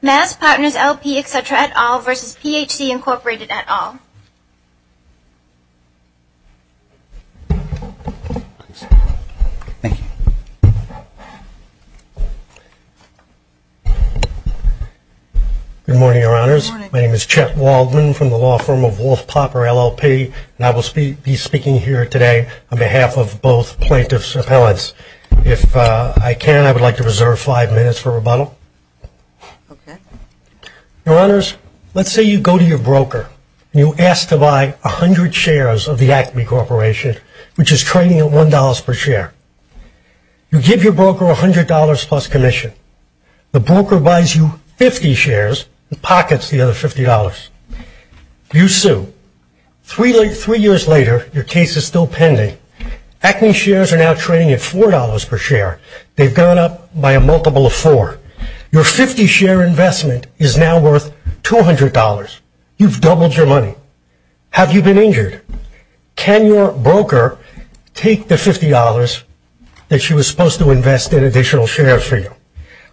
Good morning, Your Honors. My name is Chet Waldman from the law firm of Wolf-Popper LLP, and I will be speaking here today on behalf of both plaintiffs' appellates. If I can, I would like to reserve five minutes for rebuttal. Your Honors, let's say you go to your broker and you ask to buy 100 shares of the Acme Corporation, which is trading at $1 per share. You give your broker $100 plus commission. The broker buys you 50 shares and pockets the other $50. You sue. Three years later, your case is still pending. Acme shares are now trading at $4 per share. They've gone up by a multiple of four. Your 50 share investment is now worth $200. You've doubled your money. Have you been injured? Can your broker take the $50 that she was supposed to invest in additional shares for you?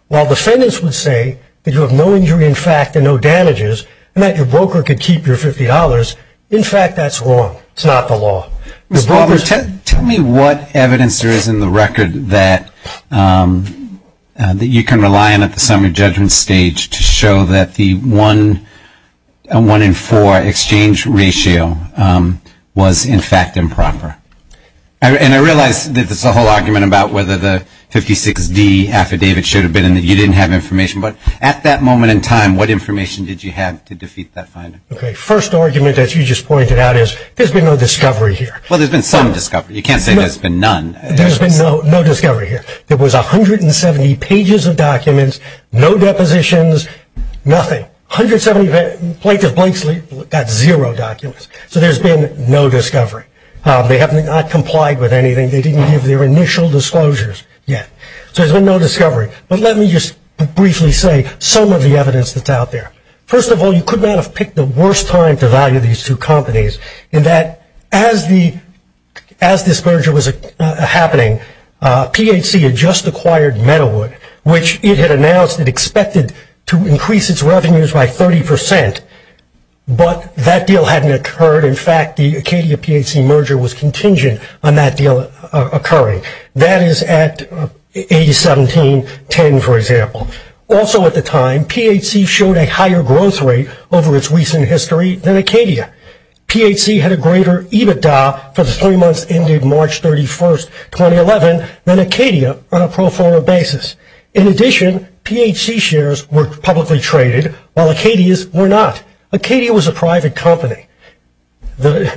While defendants would say that you have no injury in fact and no damages, and that your broker could keep your $50, in fact, that's wrong. It's not the law. Tell me what evidence there is in the record that you can rely on at the summary judgment stage to show that the 1 in 4 exchange ratio was in fact improper. And I realize that there's a whole argument about whether the 56D affidavit should have been in that you didn't have information, but at that moment in time, what information did you have to defeat that finding? First argument, as you just pointed out, is there's been no discovery here. Well, there's been some discovery. You can't say there's been none. There's been no discovery here. There was 170 pages of documents, no depositions, nothing. Plaintiff Blakeslee got zero documents. So there's been no discovery. They have not complied with anything. They didn't give their initial disclosures yet. So there's been no discovery. But let me just briefly say some of the evidence that's out there. First of all, you could not have picked the worst time to value these two companies in that as this merger was happening, PHC had just acquired Meadowood, which it had announced it expected to increase its revenues by 30%, but that deal hadn't occurred. In fact, the Acadia-PHC merger was contingent on that deal occurring. That is at 8-17-10, for example. Also at the time, PHC showed a higher growth rate over its recent history than Acadia. PHC had a greater EBITDA for the three months ended March 31, 2011, than Acadia on a pro forma basis. In addition, PHC shares were publicly traded, while Acadia's were not. Acadia was a private company,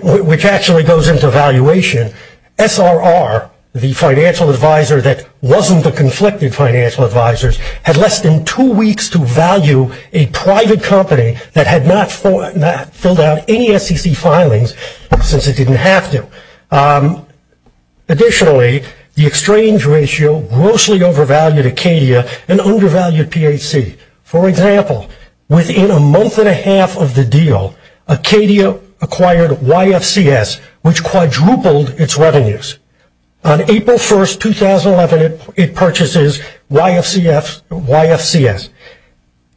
which actually goes into valuation. SRR, the financial advisor that wasn't the conflicted financial advisors, had less than two weeks to value a private company that had not filled out any SEC filings since it didn't have to. Additionally, the exchange ratio grossly overvalued Acadia and undervalued PHC. For example, within a month and a half of the deal, Acadia acquired YFCS, which quadrupled its revenues. On April 1, 2011, it purchases YFCS.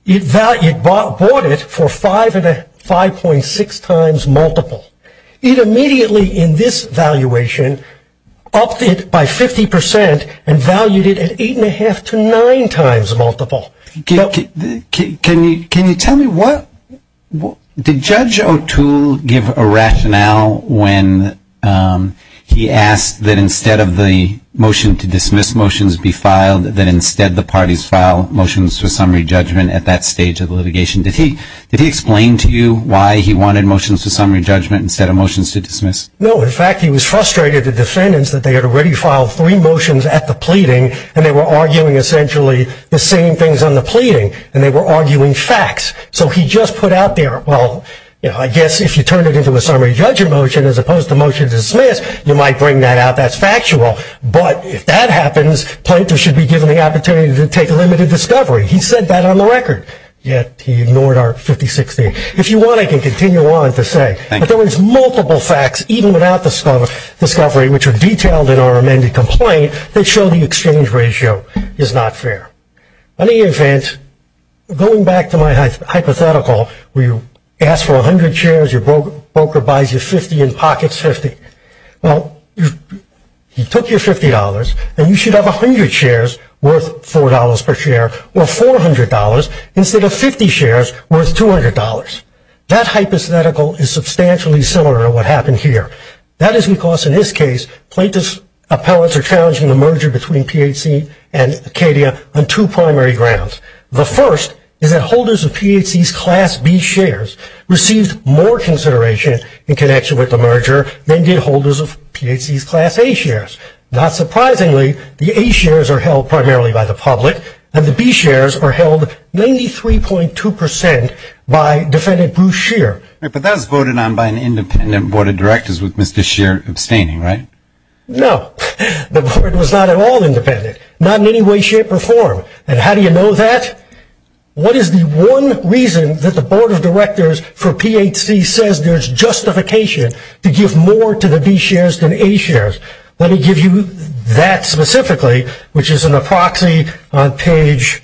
It bought it for 5.6 times multiple. It immediately, in this valuation, upped it by 50% and valued it at 8.5 to 9 times multiple. Can you tell me, did Judge O'Toole give a rationale when he asked that instead of the motion to dismiss motions be filed, that instead the parties file motions to summary judgment at that stage of litigation? Did he explain to you why he wanted motions to summary judgment instead of motions to dismiss? No. In fact, he was frustrated with the defendants that they had already filed three motions at the pleading and they were arguing essentially the same things on the pleading and they were arguing facts. So he just put out there, well, I guess if you turn it into a summary judgment motion as opposed to a motion to dismiss, you might bring that out. That's factual. But if that happens, plaintiffs should be given the opportunity to take a limited discovery. He said that on the record, yet he ignored our 50-60. If you want, I can continue on to say that there was multiple facts, even without discovery, which are detailed in our amended complaint that show the exchange ratio is not fair. In any event, going back to my hypothetical where you ask for 100 shares, your broker buys you 50 and pockets 50. Well, he took your $50 and you should have 100 shares worth $4 per share or $400 instead of 50 shares worth $200. That hypothetical is substantially similar to what happened here. That is because in this case, plaintiffs' appellants are challenging the merger between PHC and Acadia on two primary grounds. The first is that holders of PHC's class B shares received more consideration in connection with the merger than did holders of PHC's class A shares. Not surprisingly, the A shares are held primarily by the public and the B shares are held 93.2% by defendant Bruce Scheer. But that was voted on by an independent board of directors with Mr. Scheer abstaining, right? No. The board was not at all independent. Not in any way, shape, or form. And how do you know that? What is the one reason that the board of directors for PHC says there's justification to give more to the B shares than A shares? Let me give you that specifically, which is in a proxy on page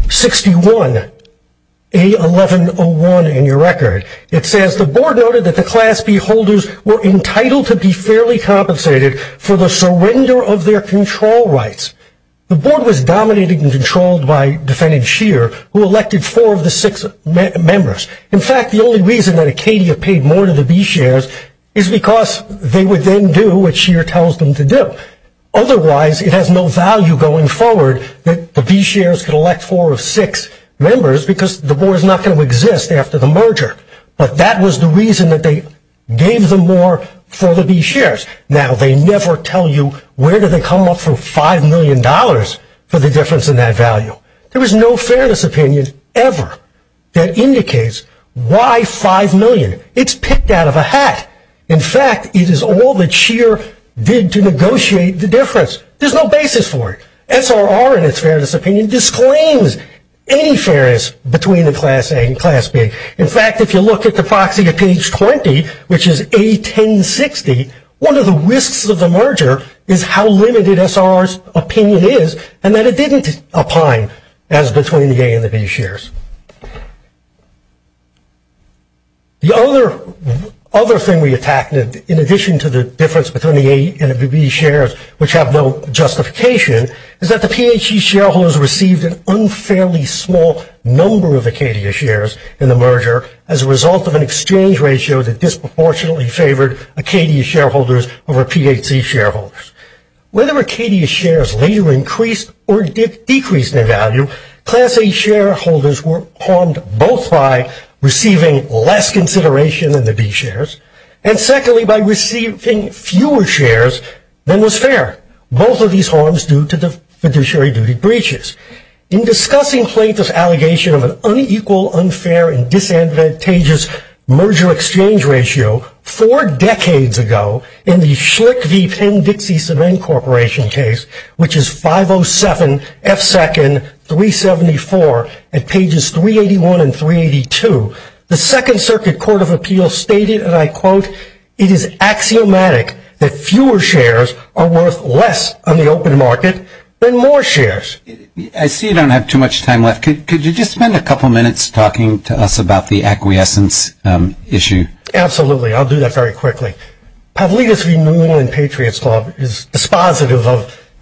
61A1101 in your record. It says, the board noted that the class B holders were entitled to be fairly compensated for the surrender of their control rights. The board was dominated and controlled by defendant Scheer, who elected four of the six members. In fact, the only reason that Acadia paid more to the B shares is because they would then do what Scheer tells them to do. Otherwise, it has no value going forward that the B shares could elect four of six members because the board is not going to exist after the merger. But that was the reason that they gave them more for the B shares. Now, they never tell you where do they come up from $5 million for the difference in that value. There is no fairness opinion ever that indicates why $5 million. It's picked out of a hat. In fact, it is all that Scheer did to negotiate the difference. There's no basis for it. SRR, in its fairness opinion, disclaims any fairness between the class A and class B. In fact, if you look at the proxy at page 20, which is A1060, one of the risks of the merger is how limited SRR's opinion is and that it didn't opine as between the A and the B shares. The other thing we attacked, in addition to the difference between the A and the B shares, which have no justification, is that the PHE shareholders received an unfairly small number of Acadia shares in the merger as a result of an exchange ratio that disproportionately favored Acadia shareholders over PHE shareholders. Whether Acadia shares later increased or decreased in value, class A shareholders were harmed both by receiving less consideration than the B shares and, secondly, by receiving fewer shares than was fair. Both of these harms due to the fiduciary duty breaches. In discussing plaintiff's allegation of an unequal, unfair, and disadvantageous merger-exchange ratio four decades ago, in the Schlicht v. Penn-Dixie Sub-Inc. case, which is 507F2-374 at pages 381 and 382, the Second Circuit Court of Appeals stated, and I quote, it is axiomatic that fewer shares are worth less on the open market than more shares. I see you don't have too much time left. Could you just spend a couple minutes talking to us about the acquiescence issue? Absolutely. I'll do that very quickly. Pavlidis v. New England Patriots Club is dispositive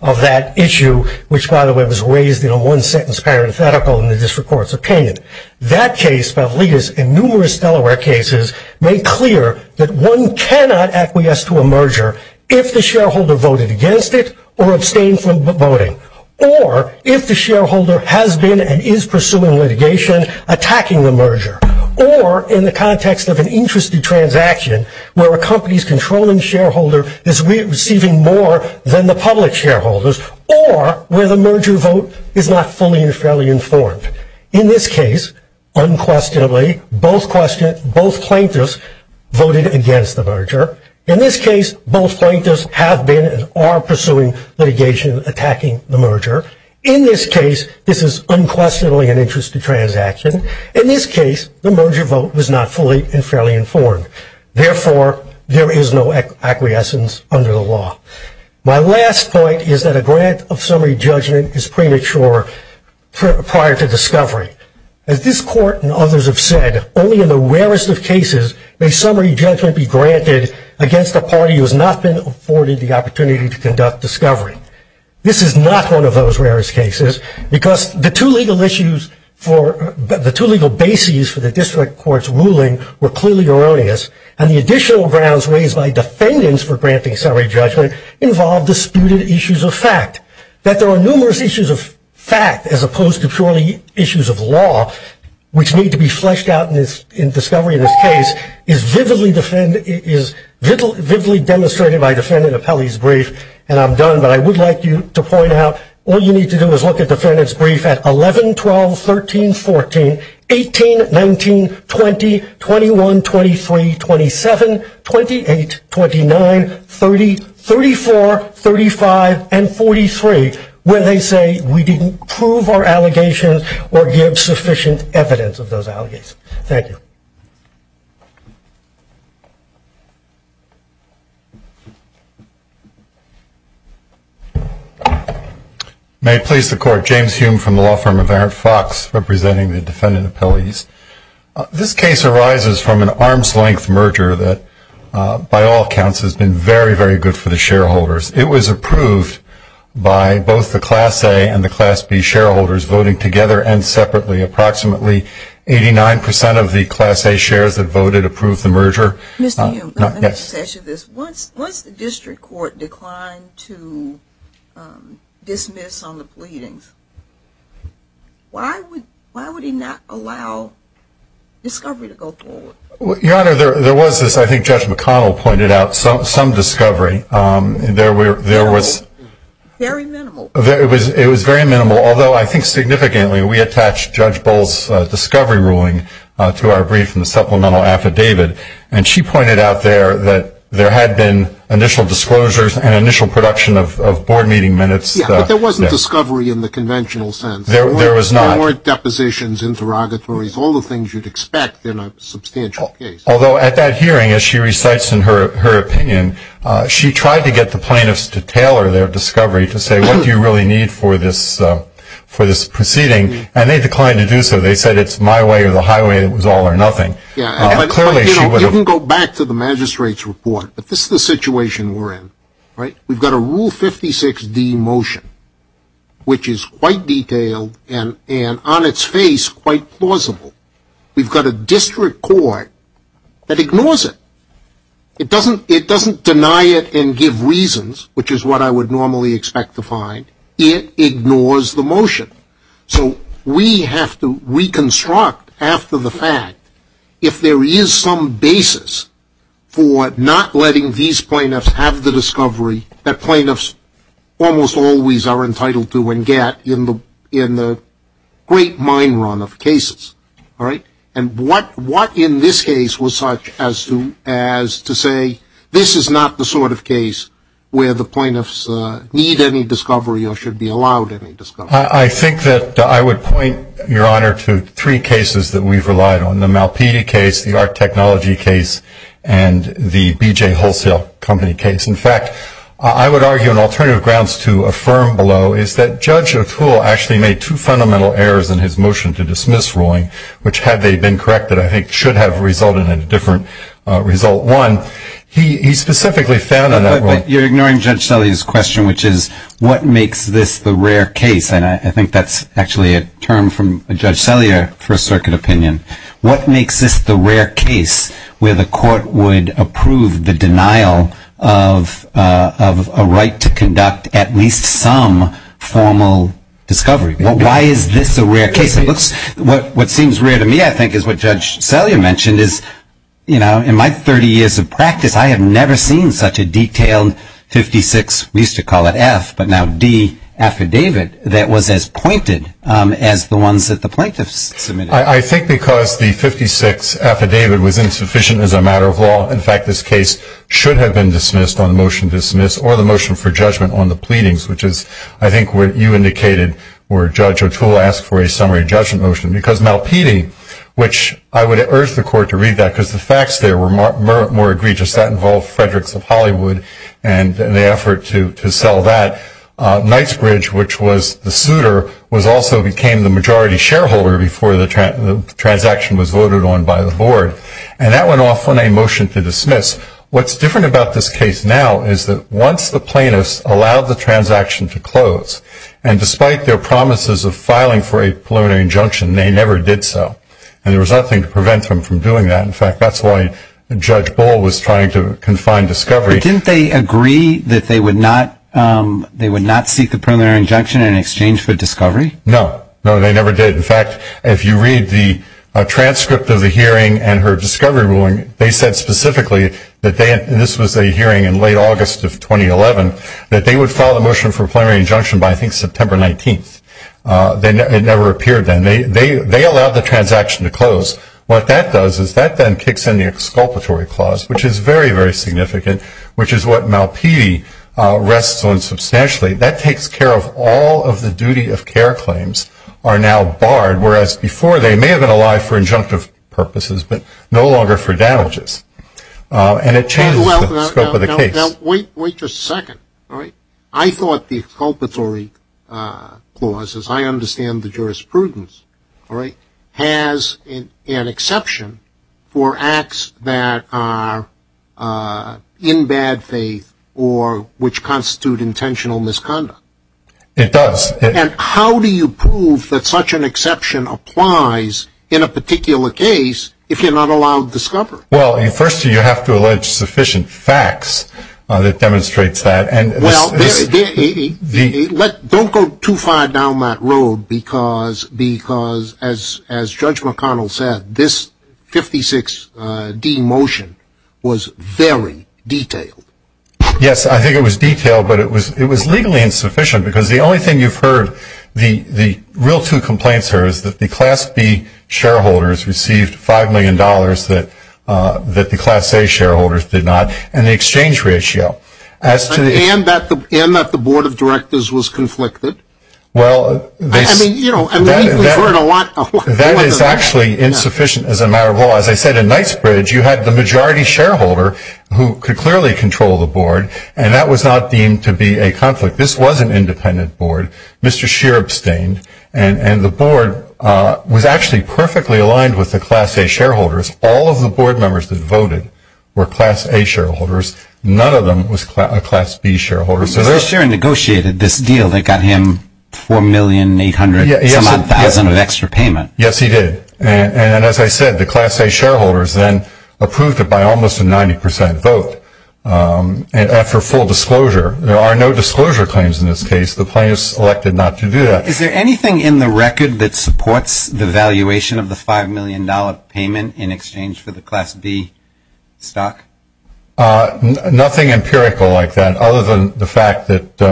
of that issue, which, by the way, was raised in a one-sentence parenthetical in the District Courts of Kenyon. That case, Pavlidis, and numerous Delaware cases, make clear that one cannot acquiesce to a merger if the shareholder voted against it or abstained from voting, or if the shareholder has been and is pursuing litigation attacking the merger, or in the context of an interest transaction where a company's controlling shareholder is receiving more than the public shareholder's, or where the merger vote is not fully and fairly informed. In this case, unquestionably, both plaintiffs voted against the merger. In this case, both plaintiffs have been and are pursuing litigation attacking the merger. In this case, this is unquestionably an interest transaction. In this case, the merger vote was not fully and fairly informed. Therefore, there is no acquiescence under the law. My last point is that a grant of summary judgment is premature prior to discovery. As this Court and others have said, only in the rarest of cases may summary judgment be granted against a party who has not been afforded the opportunity to conduct discovery. This is not one of those rarest cases because the two legal bases for the District Court's ruling were clearly erroneous, and the additional grounds raised by defendants for granting summary judgment involved disputed issues of fact. That there are numerous issues of fact as opposed to purely issues of law, which need to be fleshed out in discovery in this case, is vividly demonstrated by Defendant Apelli's brief, and I'm done, but I would like you to point out all you need to do is look at Defendant's brief at 11-12-13-14, 18-19-20-21-23-27-28-29-30-34-35-43, where they say we didn't prove our allegations or give sufficient evidence of those allegations. Thank you. May it please the Court. James Hume from the law firm of Aaron Fox, representing the Defendant Apelli's. This case arises from an arm's-length merger that, by all accounts, has been very, very good for the shareholders. It was approved by both the Class A and the Class B shareholders voting together and separately. Approximately 89% of the Class A shares that voted approved the merger. Mr. Hume, let me just ask you this. Once the district court declined to dismiss on the pleadings, why would he not allow discovery to go forward? Your Honor, there was this, I think Judge McConnell pointed out, some discovery. Very minimal. It was very minimal, although I think significantly we attached Judge Bull's discovery ruling to our brief in the supplemental affidavit, and she pointed out there that there had been initial disclosures and initial production of board meeting minutes. Yes, but there wasn't discovery in the conventional sense. There was not. There weren't depositions, interrogatories, all the things you'd expect in a substantial case. Although at that hearing, as she recites in her opinion, she tried to get the plaintiffs to tailor their discovery to say, what do you really need for this proceeding? And they declined to do so. They said it's my way or the highway, it was all or nothing. You can go back to the magistrate's report, but this is the situation we're in. We've got a Rule 56D motion, which is quite detailed and on its face quite plausible. We've got a district court that ignores it. It doesn't deny it and give reasons, which is what I would normally expect to find. It ignores the motion. So we have to reconstruct after the fact if there is some basis for not letting these plaintiffs have the discovery that plaintiffs almost always are entitled to and get in the great mine run of cases. And what in this case was such as to say, this is not the sort of case where the plaintiffs need any discovery or should be allowed any discovery? I think that I would point, Your Honor, to three cases that we've relied on, the Malpedia case, the Art Technology case, and the B.J. Wholesale Company case. In fact, I would argue an alternative grounds to affirm below is that Judge O'Toole actually made two fundamental errors in his motion to dismiss ruling, which had they been corrected, I think, should have resulted in a different result. One, he specifically found in that one. But you're ignoring Judge Sellier's question, which is, what makes this the rare case? And I think that's actually a term from Judge Sellier for a circuit opinion. What makes this the rare case where the court would approve the denial of a right to conduct at least some formal discovery? Well, why is this a rare case? What seems rare to me, I think, is what Judge Sellier mentioned is, you know, in my 30 years of practice, I have never seen such a detailed 56, we used to call it F, but now D, affidavit that was as pointed as the ones that the plaintiffs submitted. I think because the 56 affidavit was insufficient as a matter of law, in fact, this case should have been dismissed on the motion to dismiss or the motion for judgment on the pleadings, which is I think what you indicated where Judge O'Toole asked for a summary judgment motion. Because Malpedie, which I would urge the court to read that because the facts there were more egregious. That involved Frederick's of Hollywood and the effort to sell that. Knightsbridge, which was the suitor, also became the majority shareholder before the transaction was voted on by the board. And that went off on a motion to dismiss. What's different about this case now is that once the plaintiffs allowed the transaction to close, and despite their promises of filing for a preliminary injunction, they never did so. And there was nothing to prevent them from doing that. In fact, that's why Judge Boal was trying to confine discovery. Didn't they agree that they would not seek the preliminary injunction in exchange for discovery? No, no, they never did. In fact, if you read the transcript of the hearing and her discovery ruling, they said specifically that this was a hearing in late August of 2011, that they would file the motion for a preliminary injunction by, I think, September 19th. It never appeared then. They allowed the transaction to close. What that does is that then kicks in the exculpatory clause, which is very, very significant, which is what Malpedie rests on substantially. That takes care of all of the duty of care claims are now barred, whereas before they may have been allowed for injunctive purposes but no longer for damages. And it changes the scope of the case. Wait just a second. I thought the exculpatory clause, as I understand the jurisprudence, has an exception for acts that are in bad faith or which constitute intentional misconduct. It does. And how do you prove that such an exception applies in a particular case if you're not allowed discovery? Well, first you have to allege sufficient facts that demonstrates that. Well, don't go too far down that road because, as Judge McConnell said, this 56D motion was very detailed. Yes, I think it was detailed, but it was legally insufficient because the only thing you've heard the real two complaints are is that the Class B shareholders received $5 million that the Class A shareholders did not and the exchange ratio. And that the Board of Directors was conflicted. Well, that is actually insufficient as a matter of law. As I said, in Knightsbridge you had the majority shareholder who could clearly control the board, and that was not deemed to be a conflict. This was an independent board. Mr. Scheer abstained, and the board was actually perfectly aligned with the Class A shareholders. All of the board members that voted were Class A shareholders. None of them was a Class B shareholder. Mr. Scheer negotiated this deal that got him $4,800,000-some-odd-thousand of extra payment. Yes, he did. And as I said, the Class A shareholders then approved it by almost a 90 percent vote. And after full disclosure, there are no disclosure claims in this case. The plaintiffs elected not to do that. Is there anything in the record that supports the valuation of the $5 million payment in exchange for the Class B stock? Nothing empirical like that, other than the fact that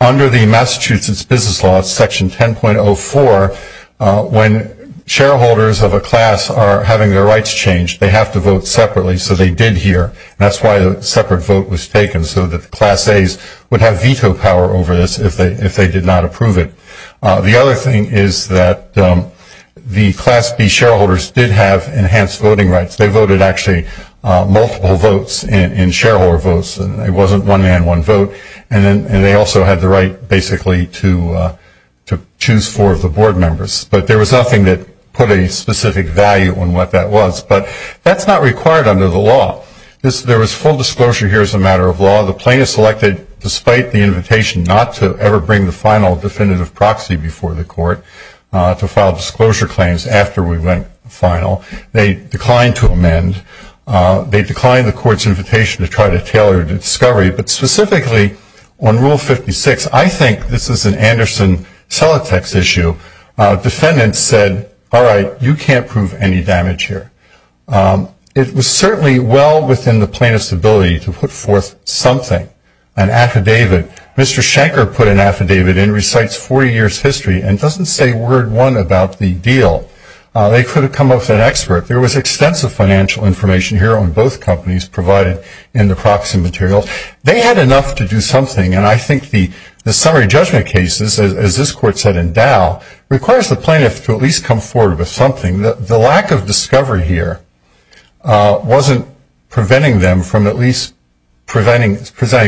under the Massachusetts Business Law, Section 10.04, when shareholders of a class are having their rights changed, they have to vote separately, so they did here. That's why a separate vote was taken, so that the Class As would have veto power over this if they did not approve it. The other thing is that the Class B shareholders did have enhanced voting rights. They voted, actually, multiple votes in shareholder votes. It wasn't one man, one vote, and they also had the right, basically, to choose four of the board members. But there was nothing that put a specific value on what that was. But that's not required under the law. There was full disclosure here as a matter of law. The plaintiffs elected, despite the invitation not to ever bring the final definitive proxy before the court to file disclosure claims after we went final. They declined to amend. They declined the court's invitation to try to tailor the discovery. But specifically, on Rule 56, I think this is an Anderson Celotex issue. Defendants said, all right, you can't prove any damage here. It was certainly well within the plaintiff's ability to put forth something, an affidavit. Mr. Shanker put an affidavit in, recites 40 years' history, and doesn't say word one about the deal. They could have come up with an expert. There was extensive financial information here on both companies provided in the proxy materials. They had enough to do something, and I think the summary judgment cases, as this court said in Dow, requires the plaintiff to at least come forward with something. The lack of discovery here wasn't preventing them from at least presenting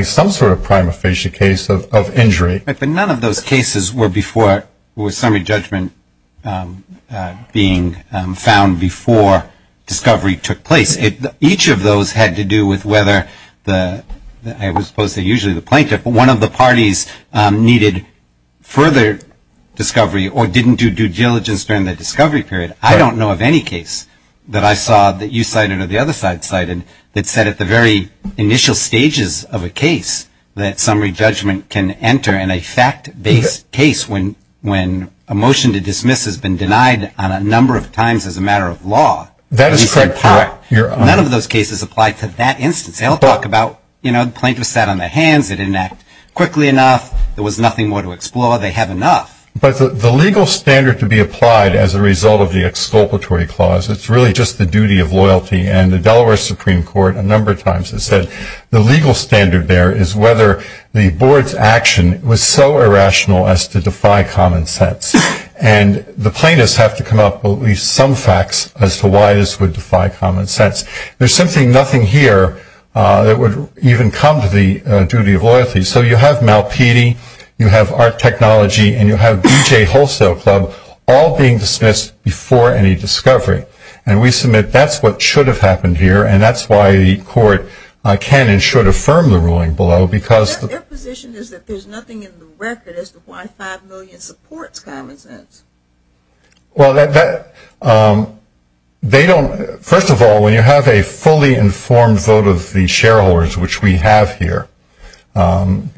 some sort of prima facie case of injury. But none of those cases were before summary judgment being found before discovery took place. Each of those had to do with whether, I was supposed to say usually the plaintiff, but one of the parties needed further discovery or didn't do due diligence during the discovery period. I don't know of any case that I saw that you cited or the other side cited that said at the very initial stages of a case that summary judgment can enter in a fact-based case when a motion to dismiss has been denied on a number of times as a matter of law. None of those cases applied to that instance. They all talk about the plaintiff sat on their hands, it didn't act quickly enough, there was nothing more to explore, they have enough. But the legal standard to be applied as a result of the exculpatory clause, it's really just the duty of loyalty and the Delaware Supreme Court a number of times has said the legal standard there is whether the board's action was so irrational as to defy common sense. And the plaintiffs have to come up with at least some facts as to why this would defy common sense. There's simply nothing here that would even come to the duty of loyalty. So you have Malpedie, you have Art Technology, and you have D.J. Wholesale Club all being dismissed before any discovery. And we submit that's what should have happened here, and that's why the court can and should affirm the ruling below. Their position is that there's nothing in the record as to why 5 million supports common sense. Well, they don't – first of all, when you have a fully informed vote of the shareholders, which we have here,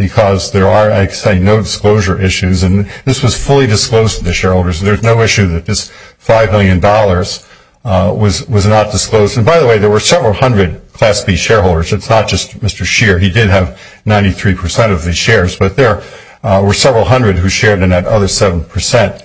because there are, like I say, no disclosure issues, and this was fully disclosed to the shareholders, there's no issue that this $5 million was not disclosed. And by the way, there were several hundred Class B shareholders, it's not just Mr. Scheer. He did have 93% of the shares, but there were several hundred who shared in that other 7%.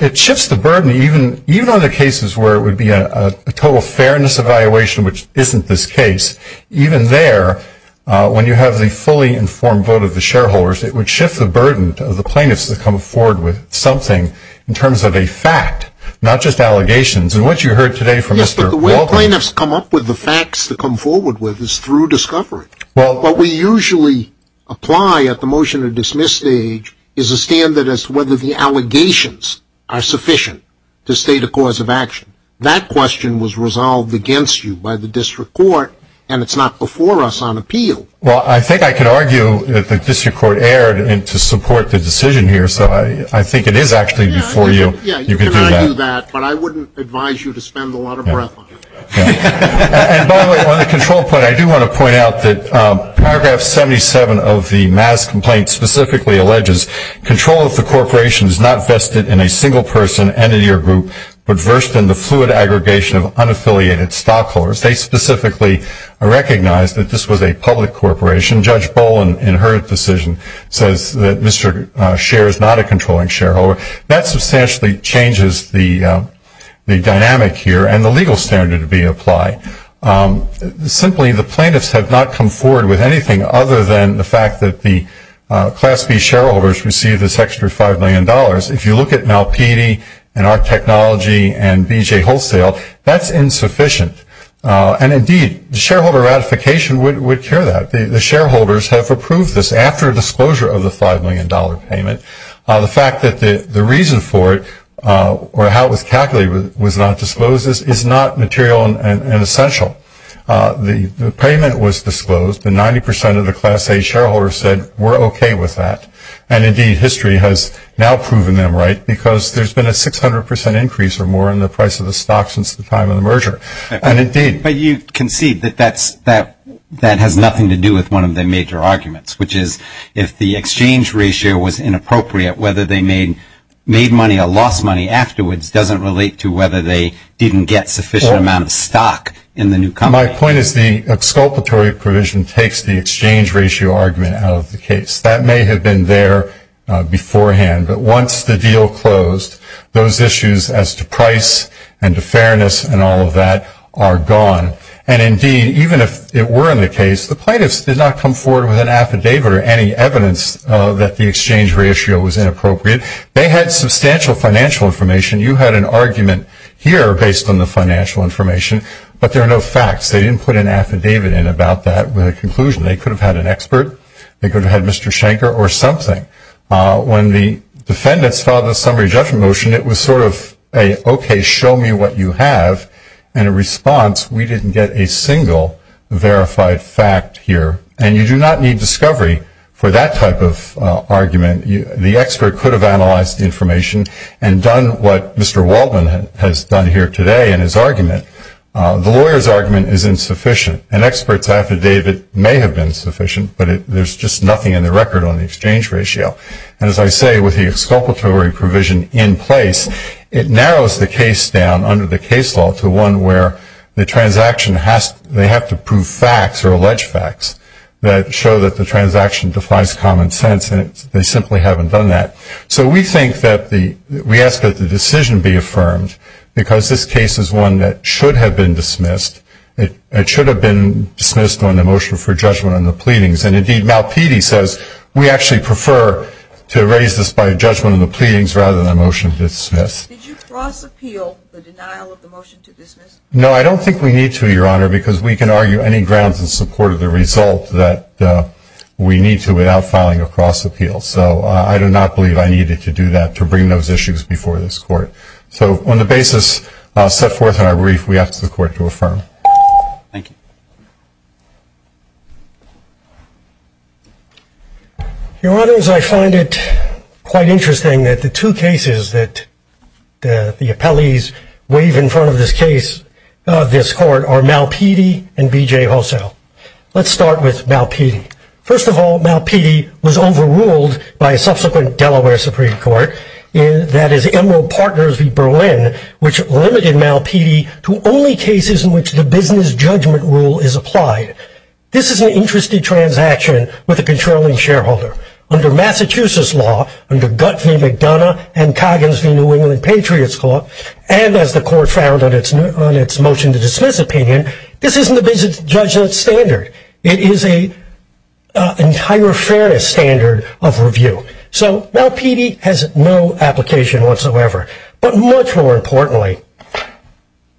It shifts the burden even on the cases where it would be a total fairness evaluation, which isn't this case. Even there, when you have the fully informed vote of the shareholders, it would shift the burden of the plaintiffs to come forward with something in terms of a fact, not just allegations. And what you heard today from Mr. Walker. The way the plaintiffs come up with the facts to come forward with is through discovery. What we usually apply at the motion to dismiss stage is a standard as to whether the allegations are sufficient to state a cause of action. That question was resolved against you by the district court, and it's not before us on appeal. Well, I think I can argue that the district court erred to support the decision here, so I think it is actually before you. Yeah, you can argue that, but I wouldn't advise you to spend a lot of breath on it. And by the way, on the control point, I do want to point out that paragraph 77 of the MAS complaint specifically alleges control of the corporation is not vested in a single person, entity, or group, but versed in the fluid aggregation of unaffiliated stockholders. They specifically recognized that this was a public corporation. Judge Boland, in her decision, says that Mr. Scheer is not a controlling shareholder. That substantially changes the dynamic here and the legal standard to be applied. Simply, the plaintiffs have not come forward with anything other than the fact that the Class B shareholders receive this extra $5 million. If you look at Malpedie and our technology and BJ Wholesale, that's insufficient. And indeed, the shareholder ratification would cure that. The shareholders have approved this after disclosure of the $5 million payment. The fact that the reason for it or how it was calculated was not disclosed is not material and essential. The payment was disclosed, and 90% of the Class A shareholders said, we're okay with that. And indeed, history has now proven them right because there's been a 600% increase or more in the price of the stock since the time of the merger. But you concede that that has nothing to do with one of the major arguments, which is if the exchange ratio was inappropriate, whether they made money or lost money afterwards doesn't relate to whether they didn't get sufficient amount of stock in the new company. My point is the exculpatory provision takes the exchange ratio argument out of the case. That may have been there beforehand. But once the deal closed, those issues as to price and to fairness and all of that are gone. And indeed, even if it were in the case, the plaintiffs did not come forward with an affidavit or any evidence that the exchange ratio was inappropriate. They had substantial financial information. You had an argument here based on the financial information, but there are no facts. They didn't put an affidavit in about that with a conclusion. They could have had an expert. They could have had Mr. Shanker or something. When the defendants filed the summary judgment motion, it was sort of a, okay, show me what you have. And in response, we didn't get a single verified fact here. And you do not need discovery for that type of argument. The expert could have analyzed the information and done what Mr. Waltman has done here today in his argument. The lawyer's argument is insufficient. An expert's affidavit may have been sufficient, but there's just nothing in the record on the exchange ratio. And as I say, with the exculpatory provision in place, it narrows the case down under the case law to one where the transaction has to prove facts or allege facts that show that the transaction defies common sense, and they simply haven't done that. So we think that we ask that the decision be affirmed because this case is one that should have been dismissed. It should have been dismissed on the motion for judgment on the pleadings. And, indeed, Malpedie says we actually prefer to raise this by judgment on the pleadings rather than a motion to dismiss. Did you cross-appeal the denial of the motion to dismiss? No, I don't think we need to, Your Honor, because we can argue any grounds in support of the result that we need to without filing a cross-appeal. So I do not believe I needed to do that to bring those issues before this Court. So on the basis set forth in our brief, we ask the Court to affirm. Thank you. Your Honors, I find it quite interesting that the two cases that the appellees waive in front of this case, this Court, are Malpedie and B.J. Hossel. Let's start with Malpedie. First of all, Malpedie was overruled by a subsequent Delaware Supreme Court, that is, Emerald Partners v. Berlin, which limited Malpedie to only cases in which the business judgment rule is applied. This is an interested transaction with a controlling shareholder. Under Massachusetts law, under Gutt v. McDonough and Coggins v. New England Patriots Court, and as the Court found on its motion to dismiss opinion, this isn't a business judgment standard. It is an entire fairness standard of review. So Malpedie has no application whatsoever. But much more importantly,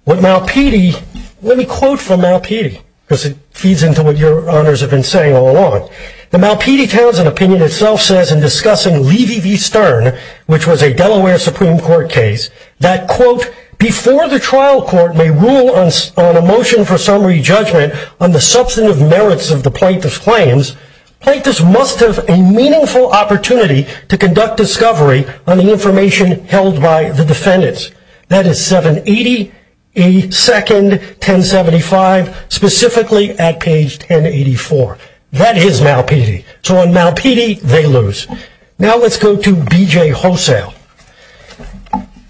with Malpedie, let me quote from Malpedie, because it feeds into what your Honors have been saying all along. The Malpedie Townsend opinion itself says in discussing Levy v. Stern, which was a Delaware Supreme Court case, that, quote, before the trial court may rule on a motion for summary judgment on the substantive merits of the plaintiff's claims, plaintiffs must have a meaningful opportunity to conduct discovery on the information held by the defendants. That is 780, a second, 1075, specifically at page 1084. That is Malpedie. So on Malpedie, they lose. Now let's go to B.J. Hosell.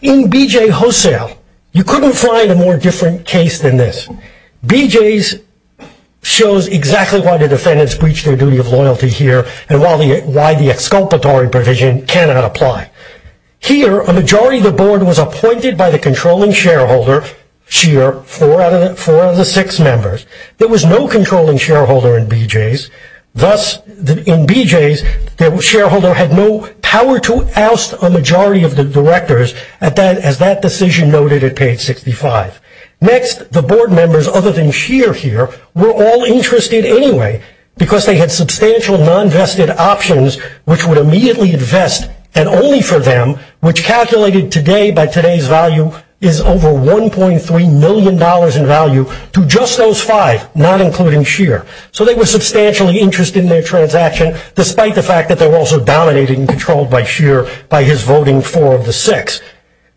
In B.J. Hosell, you couldn't find a more different case than this. In B.J. Hosell, B.J.'s shows exactly why the defendants breached their duty of loyalty here and why the exculpatory provision cannot apply. Here, a majority of the board was appointed by the controlling shareholder, Scheer, four of the six members. There was no controlling shareholder in B.J.'s. Thus, in B.J.'s, the shareholder had no power to oust a majority of the directors, as that decision noted at page 65. Next, the board members, other than Scheer here, were all interested anyway because they had substantial non-vested options which would immediately invest, and only for them, which calculated today by today's value is over $1.3 million in value to just those five, not including Scheer. So they were substantially interested in their transaction, despite the fact that they were also dominated and controlled by Scheer by his voting four of the six.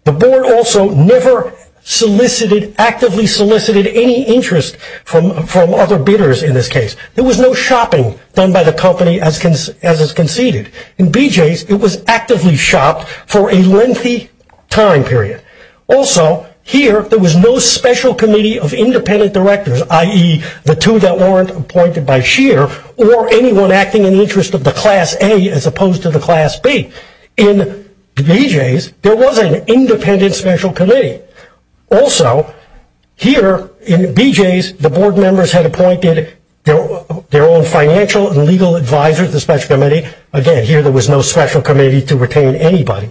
The board also never solicited, actively solicited, any interest from other bidders in this case. There was no shopping done by the company as is conceded. In B.J.'s, it was actively shopped for a lengthy time period. Also, here, there was no special committee of independent directors, i.e., the two that weren't appointed by Scheer, or anyone acting in the interest of the class A as opposed to the class B. In B.J.'s, there was an independent special committee. Also, here, in B.J.'s, the board members had appointed their own financial and legal advisors to the special committee. Again, here, there was no special committee to retain anybody.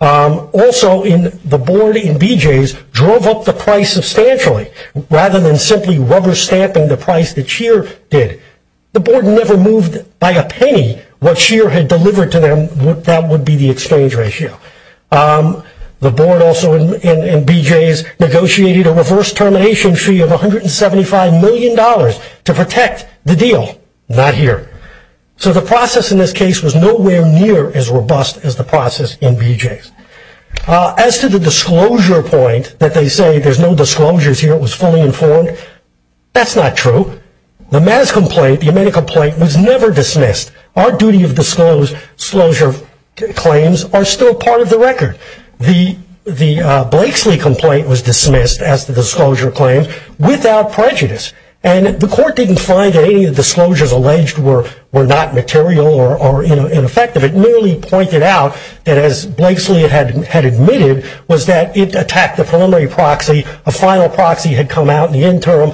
Also, the board in B.J.'s drove up the price substantially, rather than simply rubber stamping the price that Scheer did. The board never moved by a penny what Scheer had delivered to them. That would be the exchange ratio. The board also, in B.J.'s, negotiated a reverse termination fee of $175 million to protect the deal. Not here. So the process in this case was nowhere near as robust as the process in B.J.'s. As to the disclosure point that they say, there's no disclosures here, it was fully informed, that's not true. The Mazz complaint, the Amita complaint, was never dismissed. Our duty of disclosure claims are still part of the record. The Blakeslee complaint was dismissed as the disclosure claim without prejudice. And the court didn't find that any of the disclosures alleged were not material or ineffective. It merely pointed out that, as Blakeslee had admitted, was that it attacked the preliminary proxy. A final proxy had come out in the interim.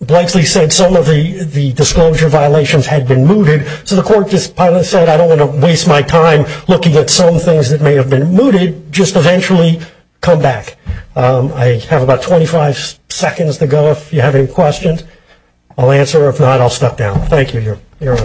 Blakeslee said some of the disclosure violations had been mooted. So the court just said, I don't want to waste my time looking at some things that may have been mooted. Just eventually come back. I have about 25 seconds to go if you have any questions. I'll answer. If not, I'll step down. Thank you, Your Honor.